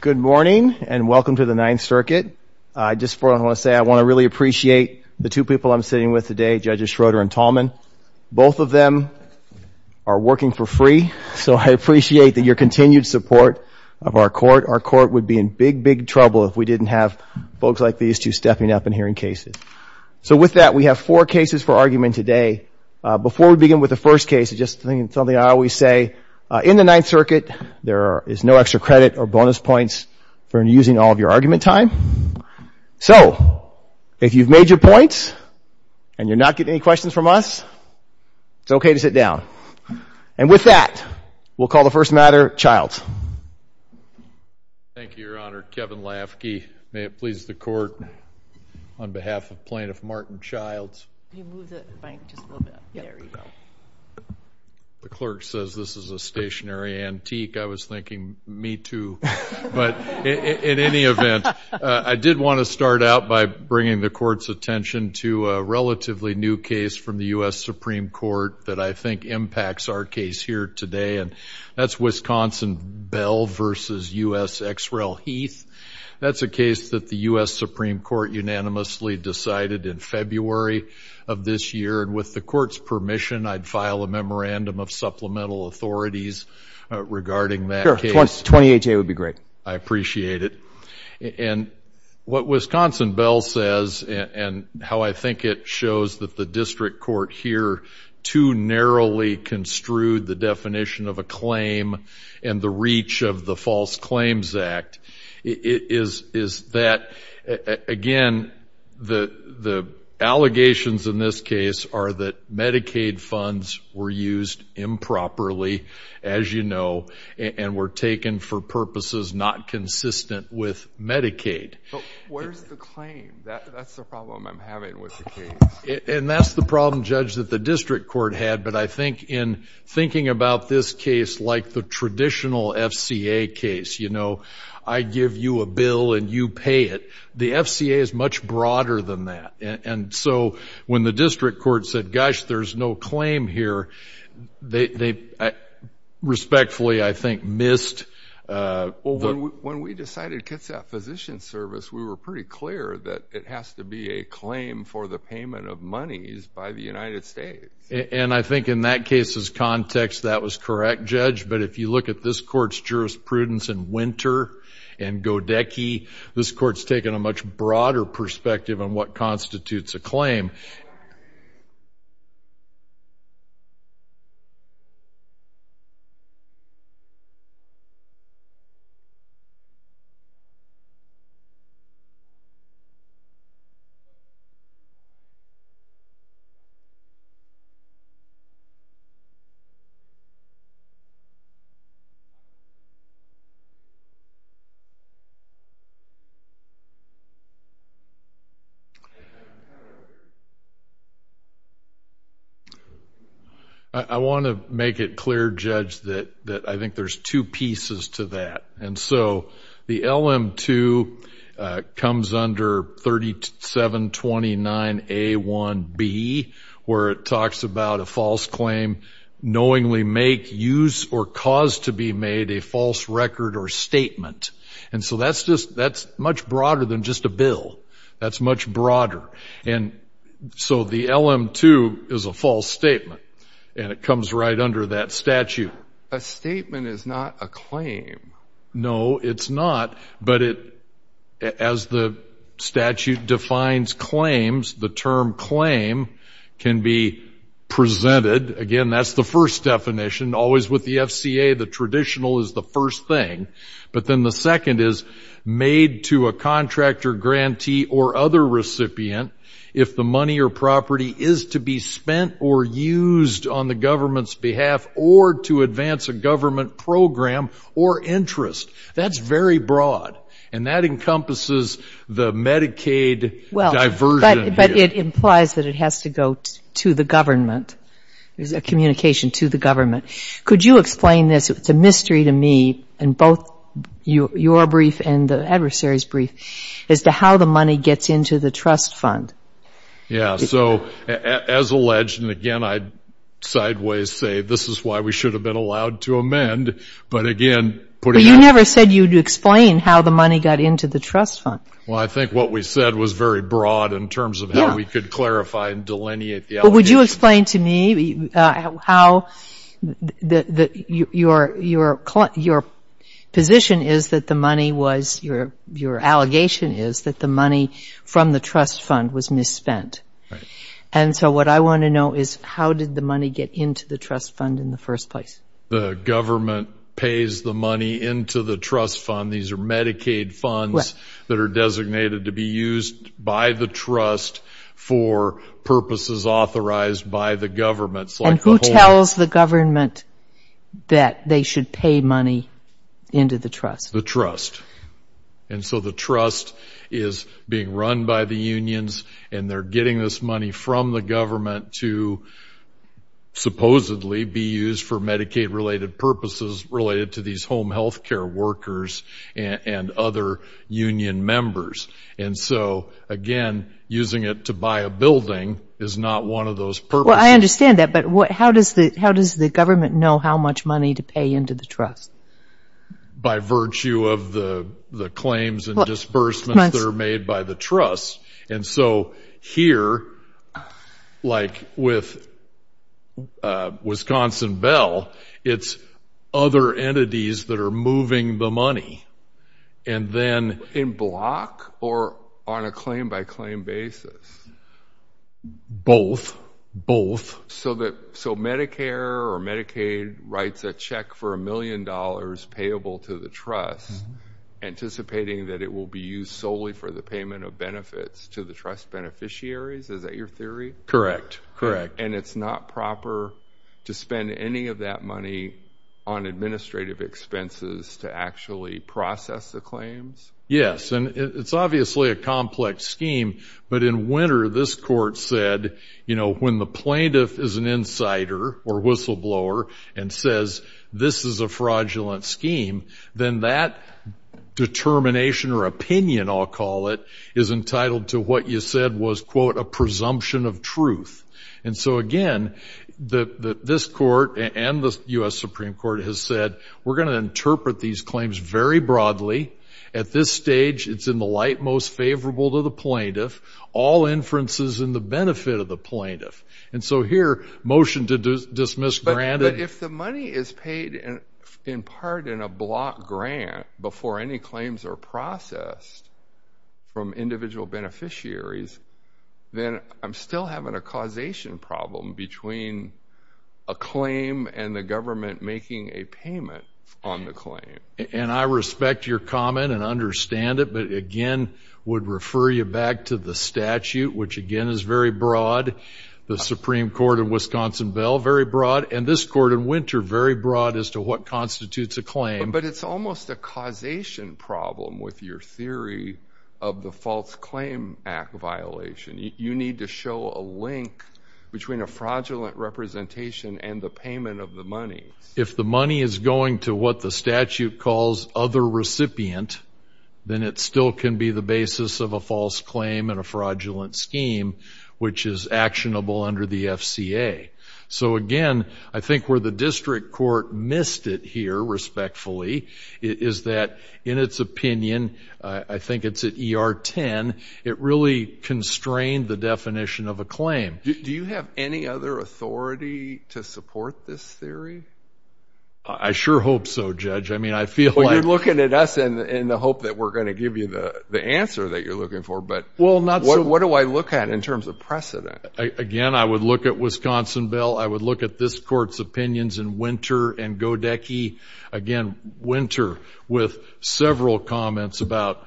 Good morning and welcome to the Ninth Circuit. I just want to say I want to really appreciate the two people I'm sitting with today, Judges Schroeder and Tallman. Both of them are working for free, so I appreciate your continued support of our court. Our court would be in big, big trouble if we didn't have folks like these two stepping up and hearing cases. So with that, we have four cases for argument today. Before we begin with the first case, just something I always say, in the Ninth Circuit, there is no extra credit or bonus points for using all of your argument time. So if you've made your points and you're not getting any questions from us, it's okay to sit down. And with that, we'll call the first matter, Childs. Thank you, Your Honor. Kevin Lafke, may it please the Court, on behalf of Plaintiff Martin Childs. Can you move the mic just a little bit? The clerk says this is a stationary antique. I was thinking, me too. But in any event, I did want to start out by bringing the Court's attention to a relatively new case from the U.S. Supreme Court that I think impacts our case here today, and that's Wisconsin Bell v. U.S. Exrell Heath. That's a case that the U.S. Supreme Court unanimously decided in February of this year, and with the Court's permission, I'd file a memorandum of supplemental authorities regarding that case. Sure, 20HA would be great. I appreciate it. And what Wisconsin Bell says and how I think it shows that the district court here too narrowly construed the definition of a claim and the reach of the False Claims Act, is that, again, the allegations in this case are that Medicaid funds were used improperly, as you know, and were taken for purposes not consistent with Medicaid. But where's the claim? That's the problem I'm having with the case. And that's the problem, Judge, that the district court had. But I think in thinking about this case like the traditional FCA case, you know, I give you a bill and you pay it, the FCA is much broader than that. And so when the district court said, gosh, there's no claim here, they respectfully, I think, missed. When we decided to cut that physician service, we were pretty clear that it has to be a claim for the payment of monies by the United States. And I think in that case's context, that was correct, Judge. But if you look at this court's jurisprudence in Winter and Godecky, this court's taken a much broader perspective on what constitutes a claim. I want to make it clear, Judge, that I think there's two pieces to that. And so the LM-2 comes under 3729A1B, where it talks about a false claim, knowingly make, use, or cause to be made a false record or statement. And so that's much broader than just a bill. That's much broader. And so the LM-2 is a false statement, and it comes right under that statute. But a statement is not a claim. No, it's not. But as the statute defines claims, the term claim can be presented. Again, that's the first definition. Always with the FCA, the traditional is the first thing. But then the second is made to a contractor, grantee, or other recipient if the money or property is to be spent or used on the government's behalf or to advance a government program or interest. That's very broad, and that encompasses the Medicaid diversion here. But it implies that it has to go to the government. There's a communication to the government. Could you explain this? It's a mystery to me in both your brief and the adversary's brief as to how the money gets into the trust fund. So, as alleged, and again, I'd sideways say this is why we should have been allowed to amend. But again, putting that- But you never said you'd explain how the money got into the trust fund. Well, I think what we said was very broad in terms of how we could clarify and delineate the allegation. Could you explain to me how your position is that the money was- your allegation is that the money from the trust fund was misspent? Right. And so what I want to know is how did the money get into the trust fund in the first place? The government pays the money into the trust fund. These are Medicaid funds that are designated to be used by the trust for purposes authorized by the government. And who tells the government that they should pay money into the trust? The trust. And so the trust is being run by the unions, and they're getting this money from the government to supposedly be used for Medicaid-related purposes related to these home health care workers and other union members. And so, again, using it to buy a building is not one of those purposes. Well, I understand that, but how does the government know how much money to pay into the trust? By virtue of the claims and disbursements that are made by the trust. And so here, like with Wisconsin Bell, it's other entities that are moving the money, and then- In block or on a claim-by-claim basis? Both. So Medicare or Medicaid writes a check for a million dollars payable to the trust anticipating that it will be used solely for the payment of benefits to the trust beneficiaries? Is that your theory? And it's not proper to spend any of that money on administrative expenses to actually process the claims? Yes, and it's obviously a complex scheme, but in winter this court said, you know, when the plaintiff is an insider or whistleblower and says, this is a fraudulent scheme, then that determination or opinion, I'll call it, is entitled to what you said was, quote, a presumption of truth. And so, again, this court and the U.S. Supreme Court has said, we're going to interpret these claims very broadly. At this stage, it's in the light most favorable to the plaintiff, all inferences in the benefit of the plaintiff. And so here, motion to dismiss granted- If the money is paid in part in a block grant before any claims are processed from individual beneficiaries, then I'm still having a causation problem between a claim and the government making a payment on the claim. And I respect your comment and understand it, but, again, would refer you back to the statute, which, again, is very broad. The Supreme Court in Wisconsin-Bell, very broad. And this court in Winter, very broad as to what constitutes a claim. But it's almost a causation problem with your theory of the False Claim Act violation. You need to show a link between a fraudulent representation and the payment of the money. If the money is going to what the statute calls other recipient, then it still can be the basis of a false claim and a fraudulent scheme, which is actionable under the FCA. So, again, I think where the district court missed it here, respectfully, is that in its opinion, I think it's at ER 10, it really constrained the definition of a claim. Do you have any other authority to support this theory? I sure hope so, Judge. I mean, I feel like- Well, you're looking at us in the hope that we're going to give you the answer that you're looking for, but what do I look at in terms of precedent? Again, I would look at Wisconsin Bill. I would look at this court's opinions in Winter and Godecky. Again, Winter, with several comments about,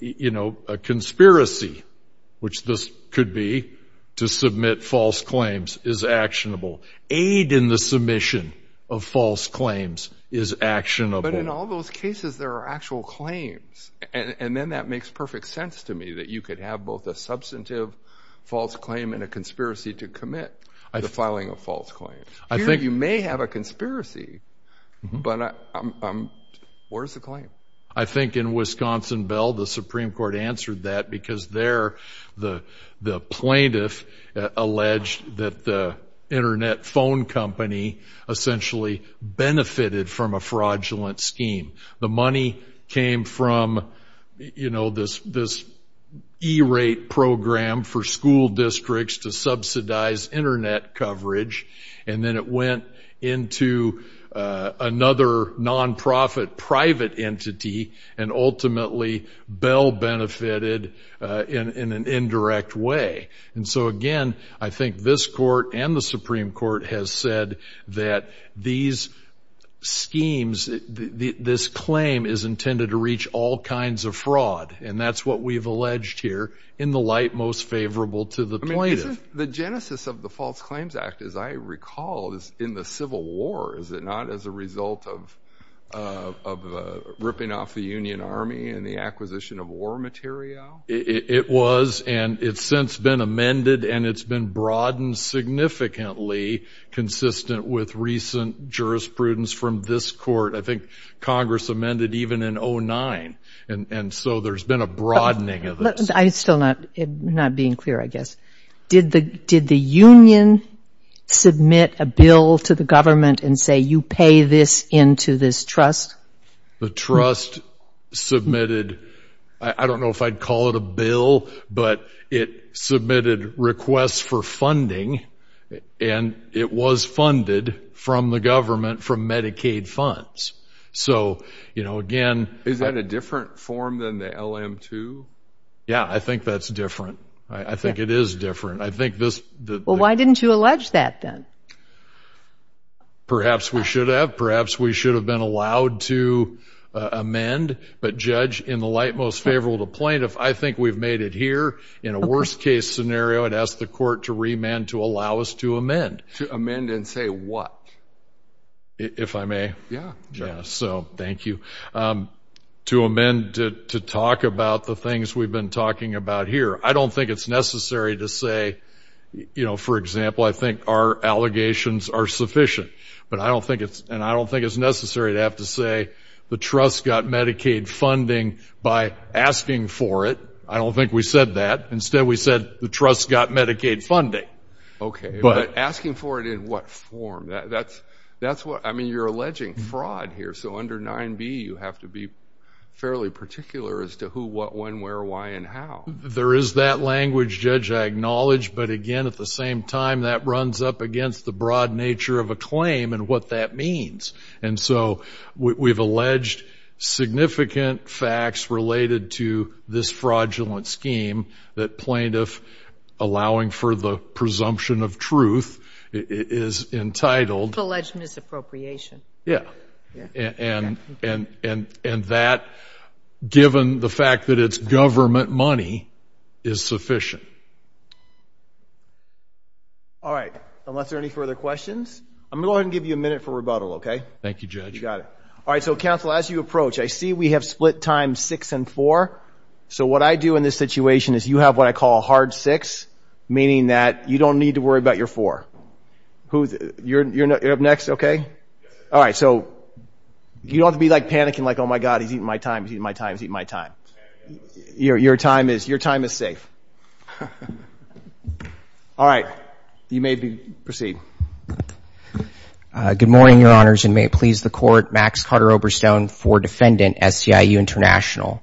you know, a conspiracy, which this could be to submit false claims, is actionable. Aid in the submission of false claims is actionable. But in all those cases, there are actual claims. And then that makes perfect sense to me, that you could have both a substantive false claim and a conspiracy to commit to filing a false claim. Here you may have a conspiracy, but where's the claim? I think in Wisconsin Bill, the Supreme Court answered that because there the plaintiff alleged that the internet phone company essentially benefited from a fraudulent scheme. The money came from, you know, this E-rate program for school districts to subsidize internet coverage, and then it went into another nonprofit private entity, and ultimately Bill benefited in an indirect way. And so again, I think this court and the Supreme Court has said that these schemes, this claim is intended to reach all kinds of fraud, and that's what we've alleged here in the light most favorable to the plaintiff. The genesis of the False Claims Act, as I recall, is in the Civil War. Is it not as a result of ripping off the Union Army and the acquisition of war material? It was, and it's since been amended, and it's been broadened significantly, consistent with recent jurisprudence from this court. I think Congress amended even in 2009, and so there's been a broadening of this. I'm still not being clear, I guess. Did the Union submit a bill to the government and say, you pay this into this trust? The trust submitted, I don't know if I'd call it a bill, but it submitted requests for funding, and it was funded from the government from Medicaid funds. So, you know, again— Is that a different form than the LM-2? Yeah, I think that's different. I think it is different. I think this— Well, why didn't you allege that then? Perhaps we should have. Perhaps we should have been allowed to amend. But, Judge, in the light most favorable to plaintiff, I think we've made it here. In a worst-case scenario, I'd ask the court to remand to allow us to amend. To amend and say what? If I may. Yeah, Judge. So, thank you. To amend to talk about the things we've been talking about here. I don't think it's necessary to say, you know, for example, I think our allegations are sufficient. But I don't think it's—and I don't think it's necessary to have to say, the trust got Medicaid funding by asking for it. I don't think we said that. Instead, we said the trust got Medicaid funding. Okay, but asking for it in what form? That's what—I mean, you're alleging fraud here. So, under 9b, you have to be fairly particular as to who, what, when, where, why, and how. There is that language, Judge, I acknowledge. But, again, at the same time, that runs up against the broad nature of a claim and what that means. And so, we've alleged significant facts related to this fraudulent scheme that plaintiff allowing for the presumption of truth is entitled— Alleged misappropriation. Yeah. And that, given the fact that it's government money, is sufficient. All right, unless there are any further questions. I'm going to go ahead and give you a minute for rebuttal, okay? Thank you, Judge. You got it. All right, so, counsel, as you approach, I see we have split time six and four. So, what I do in this situation is you have what I call a hard six, meaning that you don't need to worry about your four. You're up next, okay? All right, so, you don't have to be, like, panicking, like, oh, my God, he's eating my time, he's eating my time, he's eating my time. Your time is safe. All right, you may proceed. Good morning, Your Honors, and may it please the Court. Max Carter-Oberstone for Defendant, SEIU International.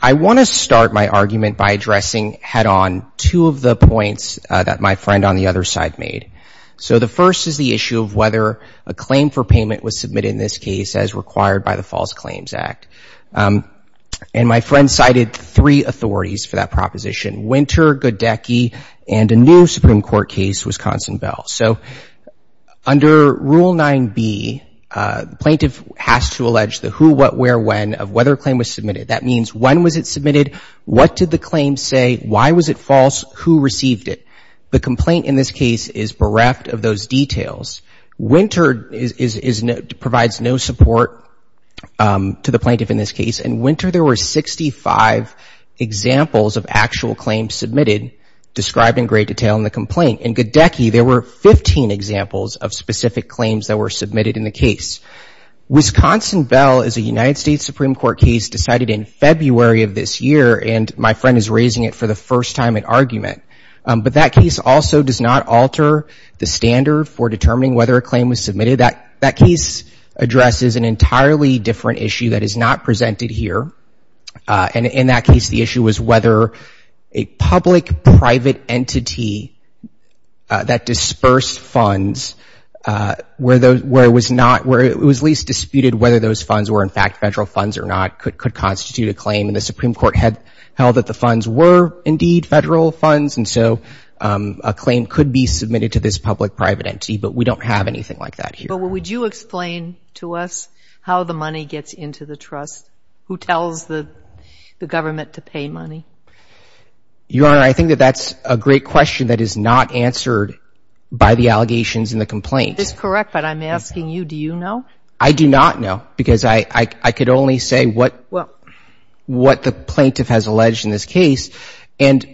I want to start my argument by addressing head-on two of the points that my friend on the other side made. So, the first is the issue of whether a claim for payment was submitted in this case as required by the False Claims Act. And my friend cited three authorities for that proposition, Winter, Goodecke, and a new Supreme Court case, Wisconsin-Bell. So, under Rule 9b, plaintiff has to allege the who, what, where, when of whether a claim was submitted. That means when was it submitted, what did the claim say, why was it false, who received it? The complaint in this case is bereft of those details. Winter provides no support to the plaintiff in this case. In Winter, there were 65 examples of actual claims submitted described in great detail in the complaint. In Goodecke, there were 15 examples of specific claims that were submitted in the case. Wisconsin-Bell is a United States Supreme Court case decided in February of this year, and my friend is raising it for the first time in argument. But that case also does not alter the standard for determining whether a claim was submitted. That case addresses an entirely different issue that is not presented here. And in that case, the issue was whether a public-private entity that dispersed funds, where it was least disputed whether those funds were in fact federal funds or not, could constitute a claim. And the Supreme Court held that the funds were indeed federal funds, and so a claim could be submitted to this public-private entity, but we don't have anything like that here. But would you explain to us how the money gets into the trust, who tells the government to pay money? Your Honor, I think that that's a great question that is not answered by the allegations in the complaint. That's correct, but I'm asking you, do you know? I do not know, because I could only say what the plaintiff has alleged in this case. And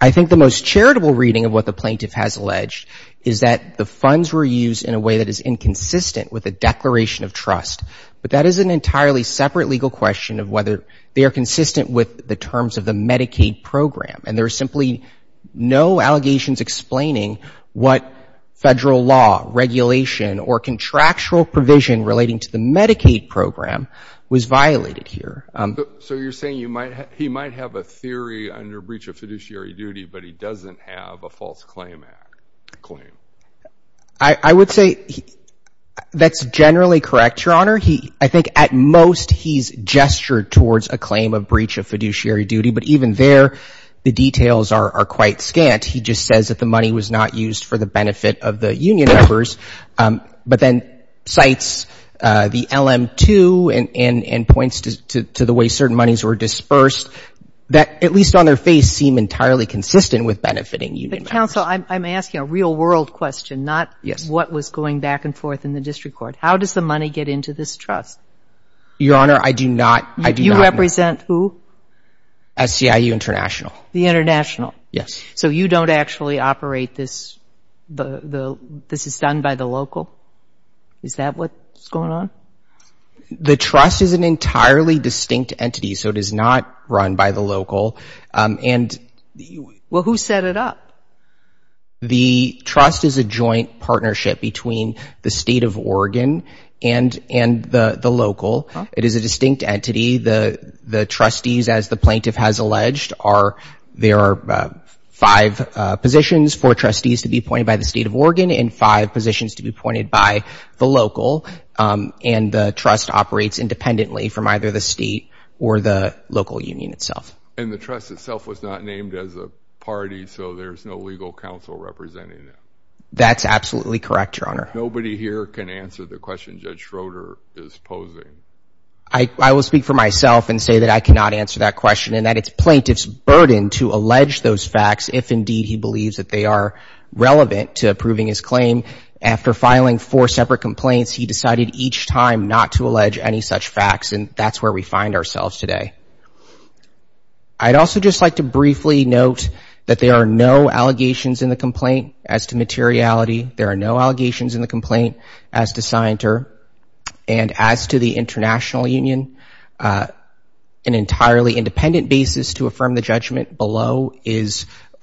I think the most charitable reading of what the plaintiff has alleged is that the funds were used in a way that is inconsistent with a declaration of trust. But that is an entirely separate legal question of whether they are consistent with the terms of the Medicaid program. And there are simply no allegations explaining what federal law, regulation, or contractual provision relating to the Medicaid program was violated here. So you're saying he might have a theory under breach of fiduciary duty, but he doesn't have a false claim? I would say that's generally correct, Your Honor. I think at most he's gestured towards a claim of breach of fiduciary duty, but even there the details are quite scant. He just says that the money was not used for the benefit of the union members, but then cites the LM2 and points to the way certain monies were dispersed that, at least on their face, seem entirely consistent with benefiting union members. But, counsel, I'm asking a real-world question, not what was going back and forth in the district court. How does the money get into this trust? Your Honor, I do not. You represent who? SCIU International. The International? Yes. So you don't actually operate this? This is done by the local? Is that what's going on? The trust is an entirely distinct entity, so it is not run by the local. Well, who set it up? The trust is a joint partnership between the State of Oregon and the local. It is a distinct entity. The trustees, as the plaintiff has alleged, there are five positions for trustees to be appointed by the State of Oregon and five positions to be appointed by the local, and the trust operates independently from either the state or the local union itself. And the trust itself was not named as a party, so there's no legal counsel representing it? That's absolutely correct, Your Honor. Nobody here can answer the question Judge Schroeder is posing. I will speak for myself and say that I cannot answer that question and that it's plaintiff's burden to allege those facts if indeed he believes that they are relevant to approving his claim. After filing four separate complaints, he decided each time not to allege any such facts, and that's where we find ourselves today. I'd also just like to briefly note that there are no allegations in the complaint as to materiality. There are no allegations in the complaint as to scienter. And as to the international union, an entirely independent basis to affirm the judgment below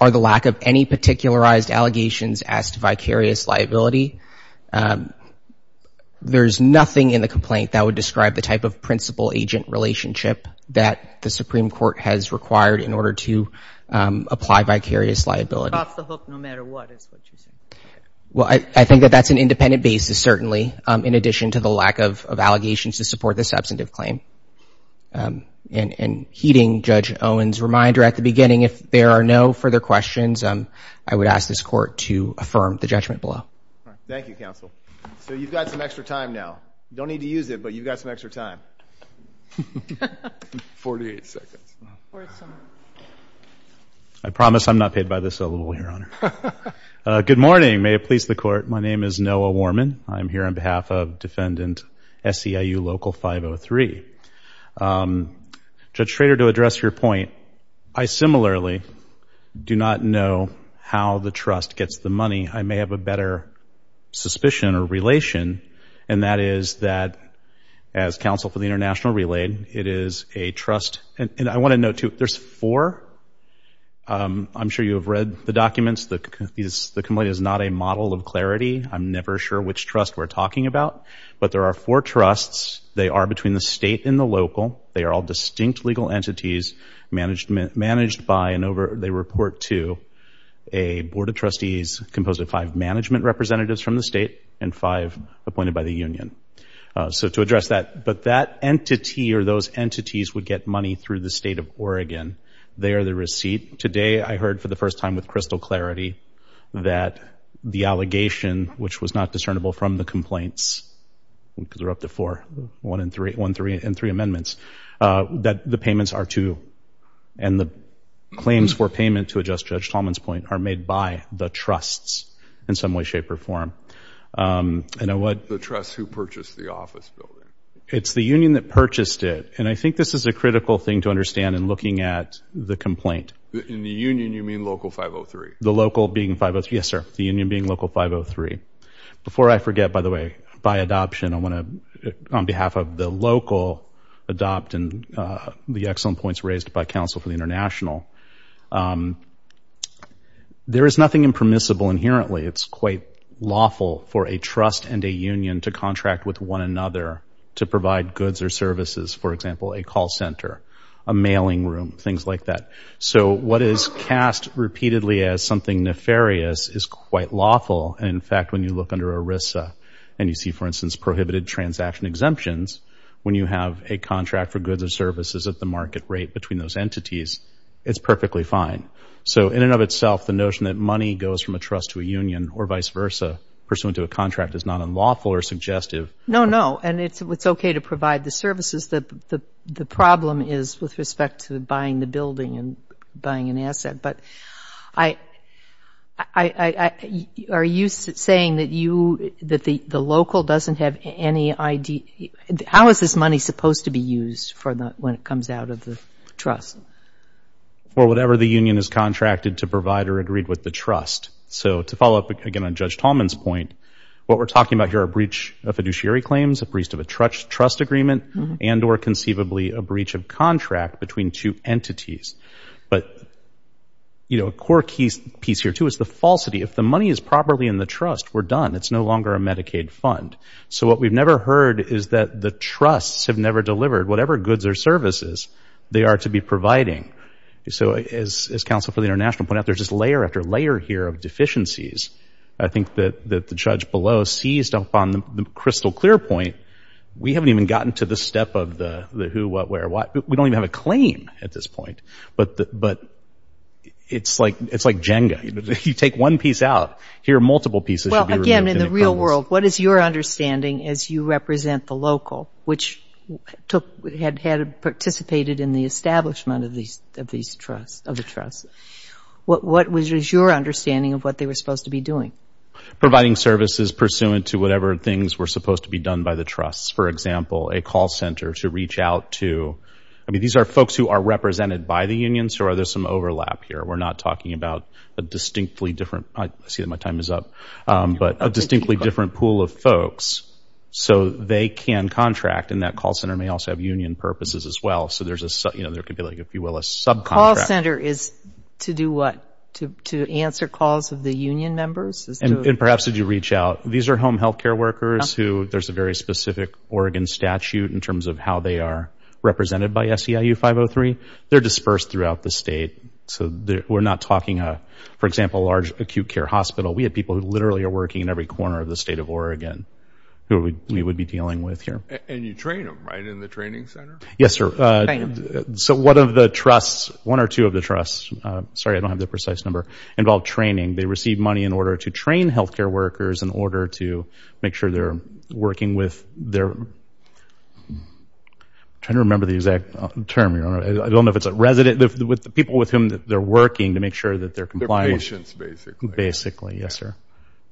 are the lack of any particularized allegations as to vicarious liability. There's nothing in the complaint that would describe the type of principal-agent relationship that the Supreme Court has required in order to apply vicarious liability. Well, I think that that's an independent basis, certainly, in addition to the lack of allegations to support the substantive claim. And heeding Judge Owen's reminder at the beginning, if there are no further questions, I would ask this Court to affirm the judgment below. Thank you, counsel. So you've got some extra time now. You don't need to use it, but you've got some extra time. Forty-eight seconds. I promise I'm not paid by the syllable here, Honor. Good morning. May it please the Court. My name is Noah Warman. I'm here on behalf of Defendant SEIU Local 503. Judge Schrader, to address your point, I similarly do not know how the trust gets the money. I may have a better suspicion or relation, and that is that as counsel for the international relay, it is a trust. And I want to note, too, there's four. I'm sure you have read the documents. The complaint is not a model of clarity. I'm never sure which trust we're talking about. But there are four trusts. They are between the state and the local. They are all distinct legal entities managed by and over. They report to a board of trustees composed of five management representatives from the state and five appointed by the union. So to address that, but that entity or those entities would get money through the state of Oregon. They are the receipt. Today I heard for the first time with crystal clarity that the allegation, which was not discernible from the complaints, because there are up to four, one, three, and three amendments, that the payments are to and the claims for payment, to adjust Judge Tallman's point, are made by the trusts in some way, shape, or form. And I would. The trust who purchased the office building. It's the union that purchased it. And I think this is a critical thing to understand in looking at the complaint. In the union, you mean Local 503? The local being 503, yes, sir, the union being Local 503. Before I forget, by the way, by adoption, I want to, on behalf of the local adopt and the excellent points raised by counsel for the international, there is nothing impermissible inherently. It's quite lawful for a trust and a union to contract with one another to provide goods or services, for example, a call center, a mailing room, things like that. So what is cast repeatedly as something nefarious is quite lawful. And, in fact, when you look under ERISA and you see, for instance, prohibited transaction exemptions, when you have a contract for goods or services at the market rate between those entities, it's perfectly fine. So in and of itself, the notion that money goes from a trust to a union or vice versa pursuant to a contract is not unlawful or suggestive. No, no, and it's okay to provide the services. The problem is with respect to buying the building and buying an asset. But are you saying that you, that the local doesn't have any ID? How is this money supposed to be used when it comes out of the trust? Well, whatever the union has contracted to provide are agreed with the trust. So to follow up again on Judge Tallman's point, what we're talking about here are a breach of fiduciary claims, a breach of a trust agreement, and or conceivably a breach of contract between two entities. But, you know, a core piece here too is the falsity. If the money is properly in the trust, we're done. It's no longer a Medicaid fund. So what we've never heard is that the trusts have never delivered whatever goods or services they are to be providing. So as counsel for the international point out, there's just layer after layer here of deficiencies. I think that the judge below seized upon the crystal clear point. We haven't even gotten to the step of the who, what, where, why. We don't even have a claim at this point. But it's like Jenga. You take one piece out. Here are multiple pieces. Well, again, in the real world, what is your understanding as you represent the local, which had participated in the establishment of the trust? What was your understanding of what they were supposed to be doing? Providing services pursuant to whatever things were supposed to be done by the trust. For example, a call center to reach out to. I mean, these are folks who are represented by the unions, or are there some overlap here? We're not talking about a distinctly different. I see that my time is up. But a distinctly different pool of folks. So they can contract, and that call center may also have union purposes as well. So there could be, if you will, a subcontract. A call center is to do what? To answer calls of the union members? And perhaps if you reach out. These are home health care workers who there's a very specific Oregon statute in terms of how they are represented by SEIU 503. They're dispersed throughout the state. So we're not talking, for example, a large acute care hospital. We have people who literally are working in every corner of the state of Oregon who we would be dealing with here. And you train them, right, in the training center? Yes, sir. So one of the trusts, one or two of the trusts, sorry, I don't have the precise number, involve training. They receive money in order to train health care workers in order to make sure they're working with their... I'm trying to remember the exact term. I don't know if it's a resident, people with whom they're working to make sure that they're compliant. They're patients, basically. Basically, yes, sir.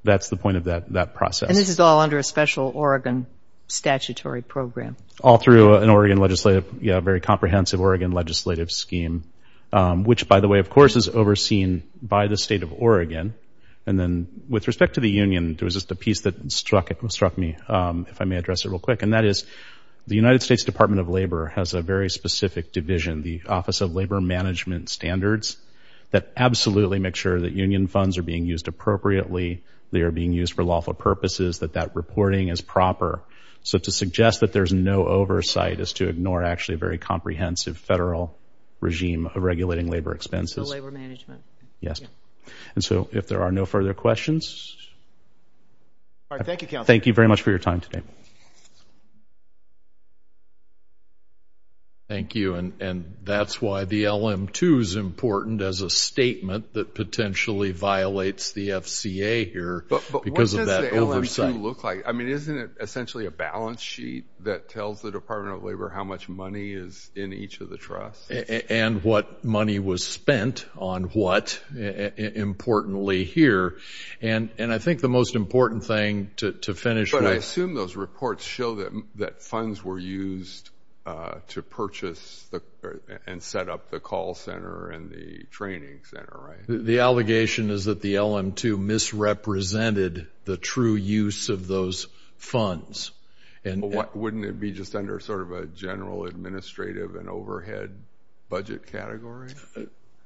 That's the point of that process. And this is all under a special Oregon statutory program? All through an Oregon legislative, yeah, a very comprehensive Oregon legislative scheme, which, by the way, of course, is overseen by the state of Oregon. And then with respect to the union, there was just a piece that struck me, if I may address it real quick, and that is the United States Department of Labor has a very specific division, the Office of Labor Management Standards, that absolutely make sure that union funds are being used appropriately, they are being used for lawful purposes, that that reporting is proper. So to suggest that there's no oversight is to ignore actually a very comprehensive federal regime of regulating labor expenses. So labor management. Yes. And so if there are no further questions... All right, thank you, counsel. Thank you very much for your time today. Thank you. And that's why the LM-2 is important as a statement that potentially violates the FCA here because of that oversight. But what does the LM-2 look like? I mean, isn't it essentially a balance sheet that tells the Department of Labor how much money is in each of the trusts? And what money was spent on what, importantly, here. And I think the most important thing to finish with... I assume those reports show that funds were used to purchase and set up the call center and the training center, right? The allegation is that the LM-2 misrepresented the true use of those funds. Wouldn't it be just under sort of a general administrative and overhead budget category?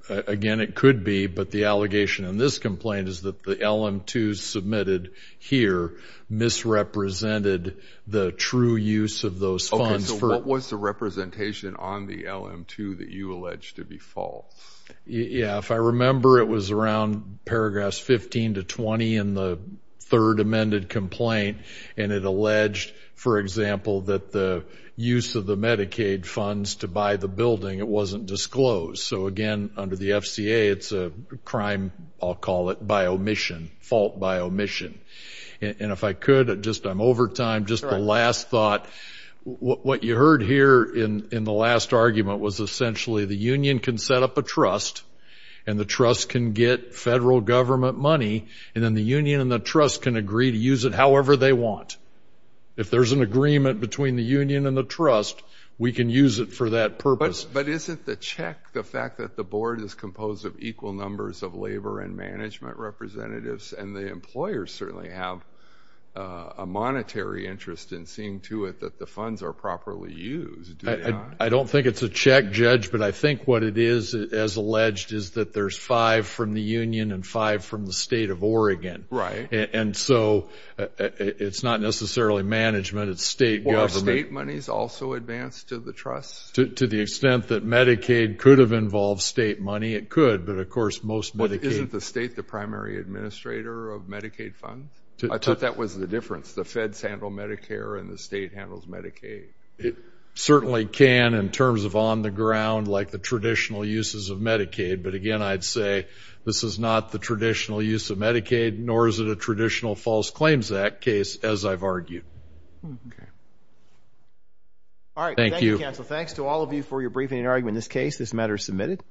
Again, it could be, but the allegation in this complaint is that the LM-2 submitted here misrepresented the true use of those funds. Okay, so what was the representation on the LM-2 that you allege to be false? Yeah, if I remember, it was around paragraphs 15 to 20 in the third amended complaint, and it alleged, for example, that the use of the Medicaid funds to buy the building, it wasn't disclosed. So again, under the FCA, it's a crime, I'll call it, by omission, fault by omission. And if I could, I'm over time, just the last thought. What you heard here in the last argument was essentially the union can set up a trust, and the trust can get federal government money, and then the union and the trust can agree to use it however they want. If there's an agreement between the union and the trust, we can use it for that purpose. But isn't the check the fact that the board is composed of equal numbers of labor and management representatives, and the employers certainly have a monetary interest in seeing to it that the funds are properly used? I don't think it's a check, Judge, but I think what it is, as alleged, is that there's five from the union and five from the state of Oregon. Right. And so it's not necessarily management, it's state government. Are state monies also advanced to the trust? To the extent that Medicaid could have involved state money, it could. But, of course, most Medicaid. But isn't the state the primary administrator of Medicaid funds? I thought that was the difference. The feds handle Medicare and the state handles Medicaid. It certainly can in terms of on the ground, like the traditional uses of Medicaid. But, again, I'd say this is not the traditional use of Medicaid, nor is it a traditional false claims act case, as I've argued. Okay. All right. Thank you. Thank you, counsel. Thanks to all of you for your briefing and argument in this case. This matter is submitted.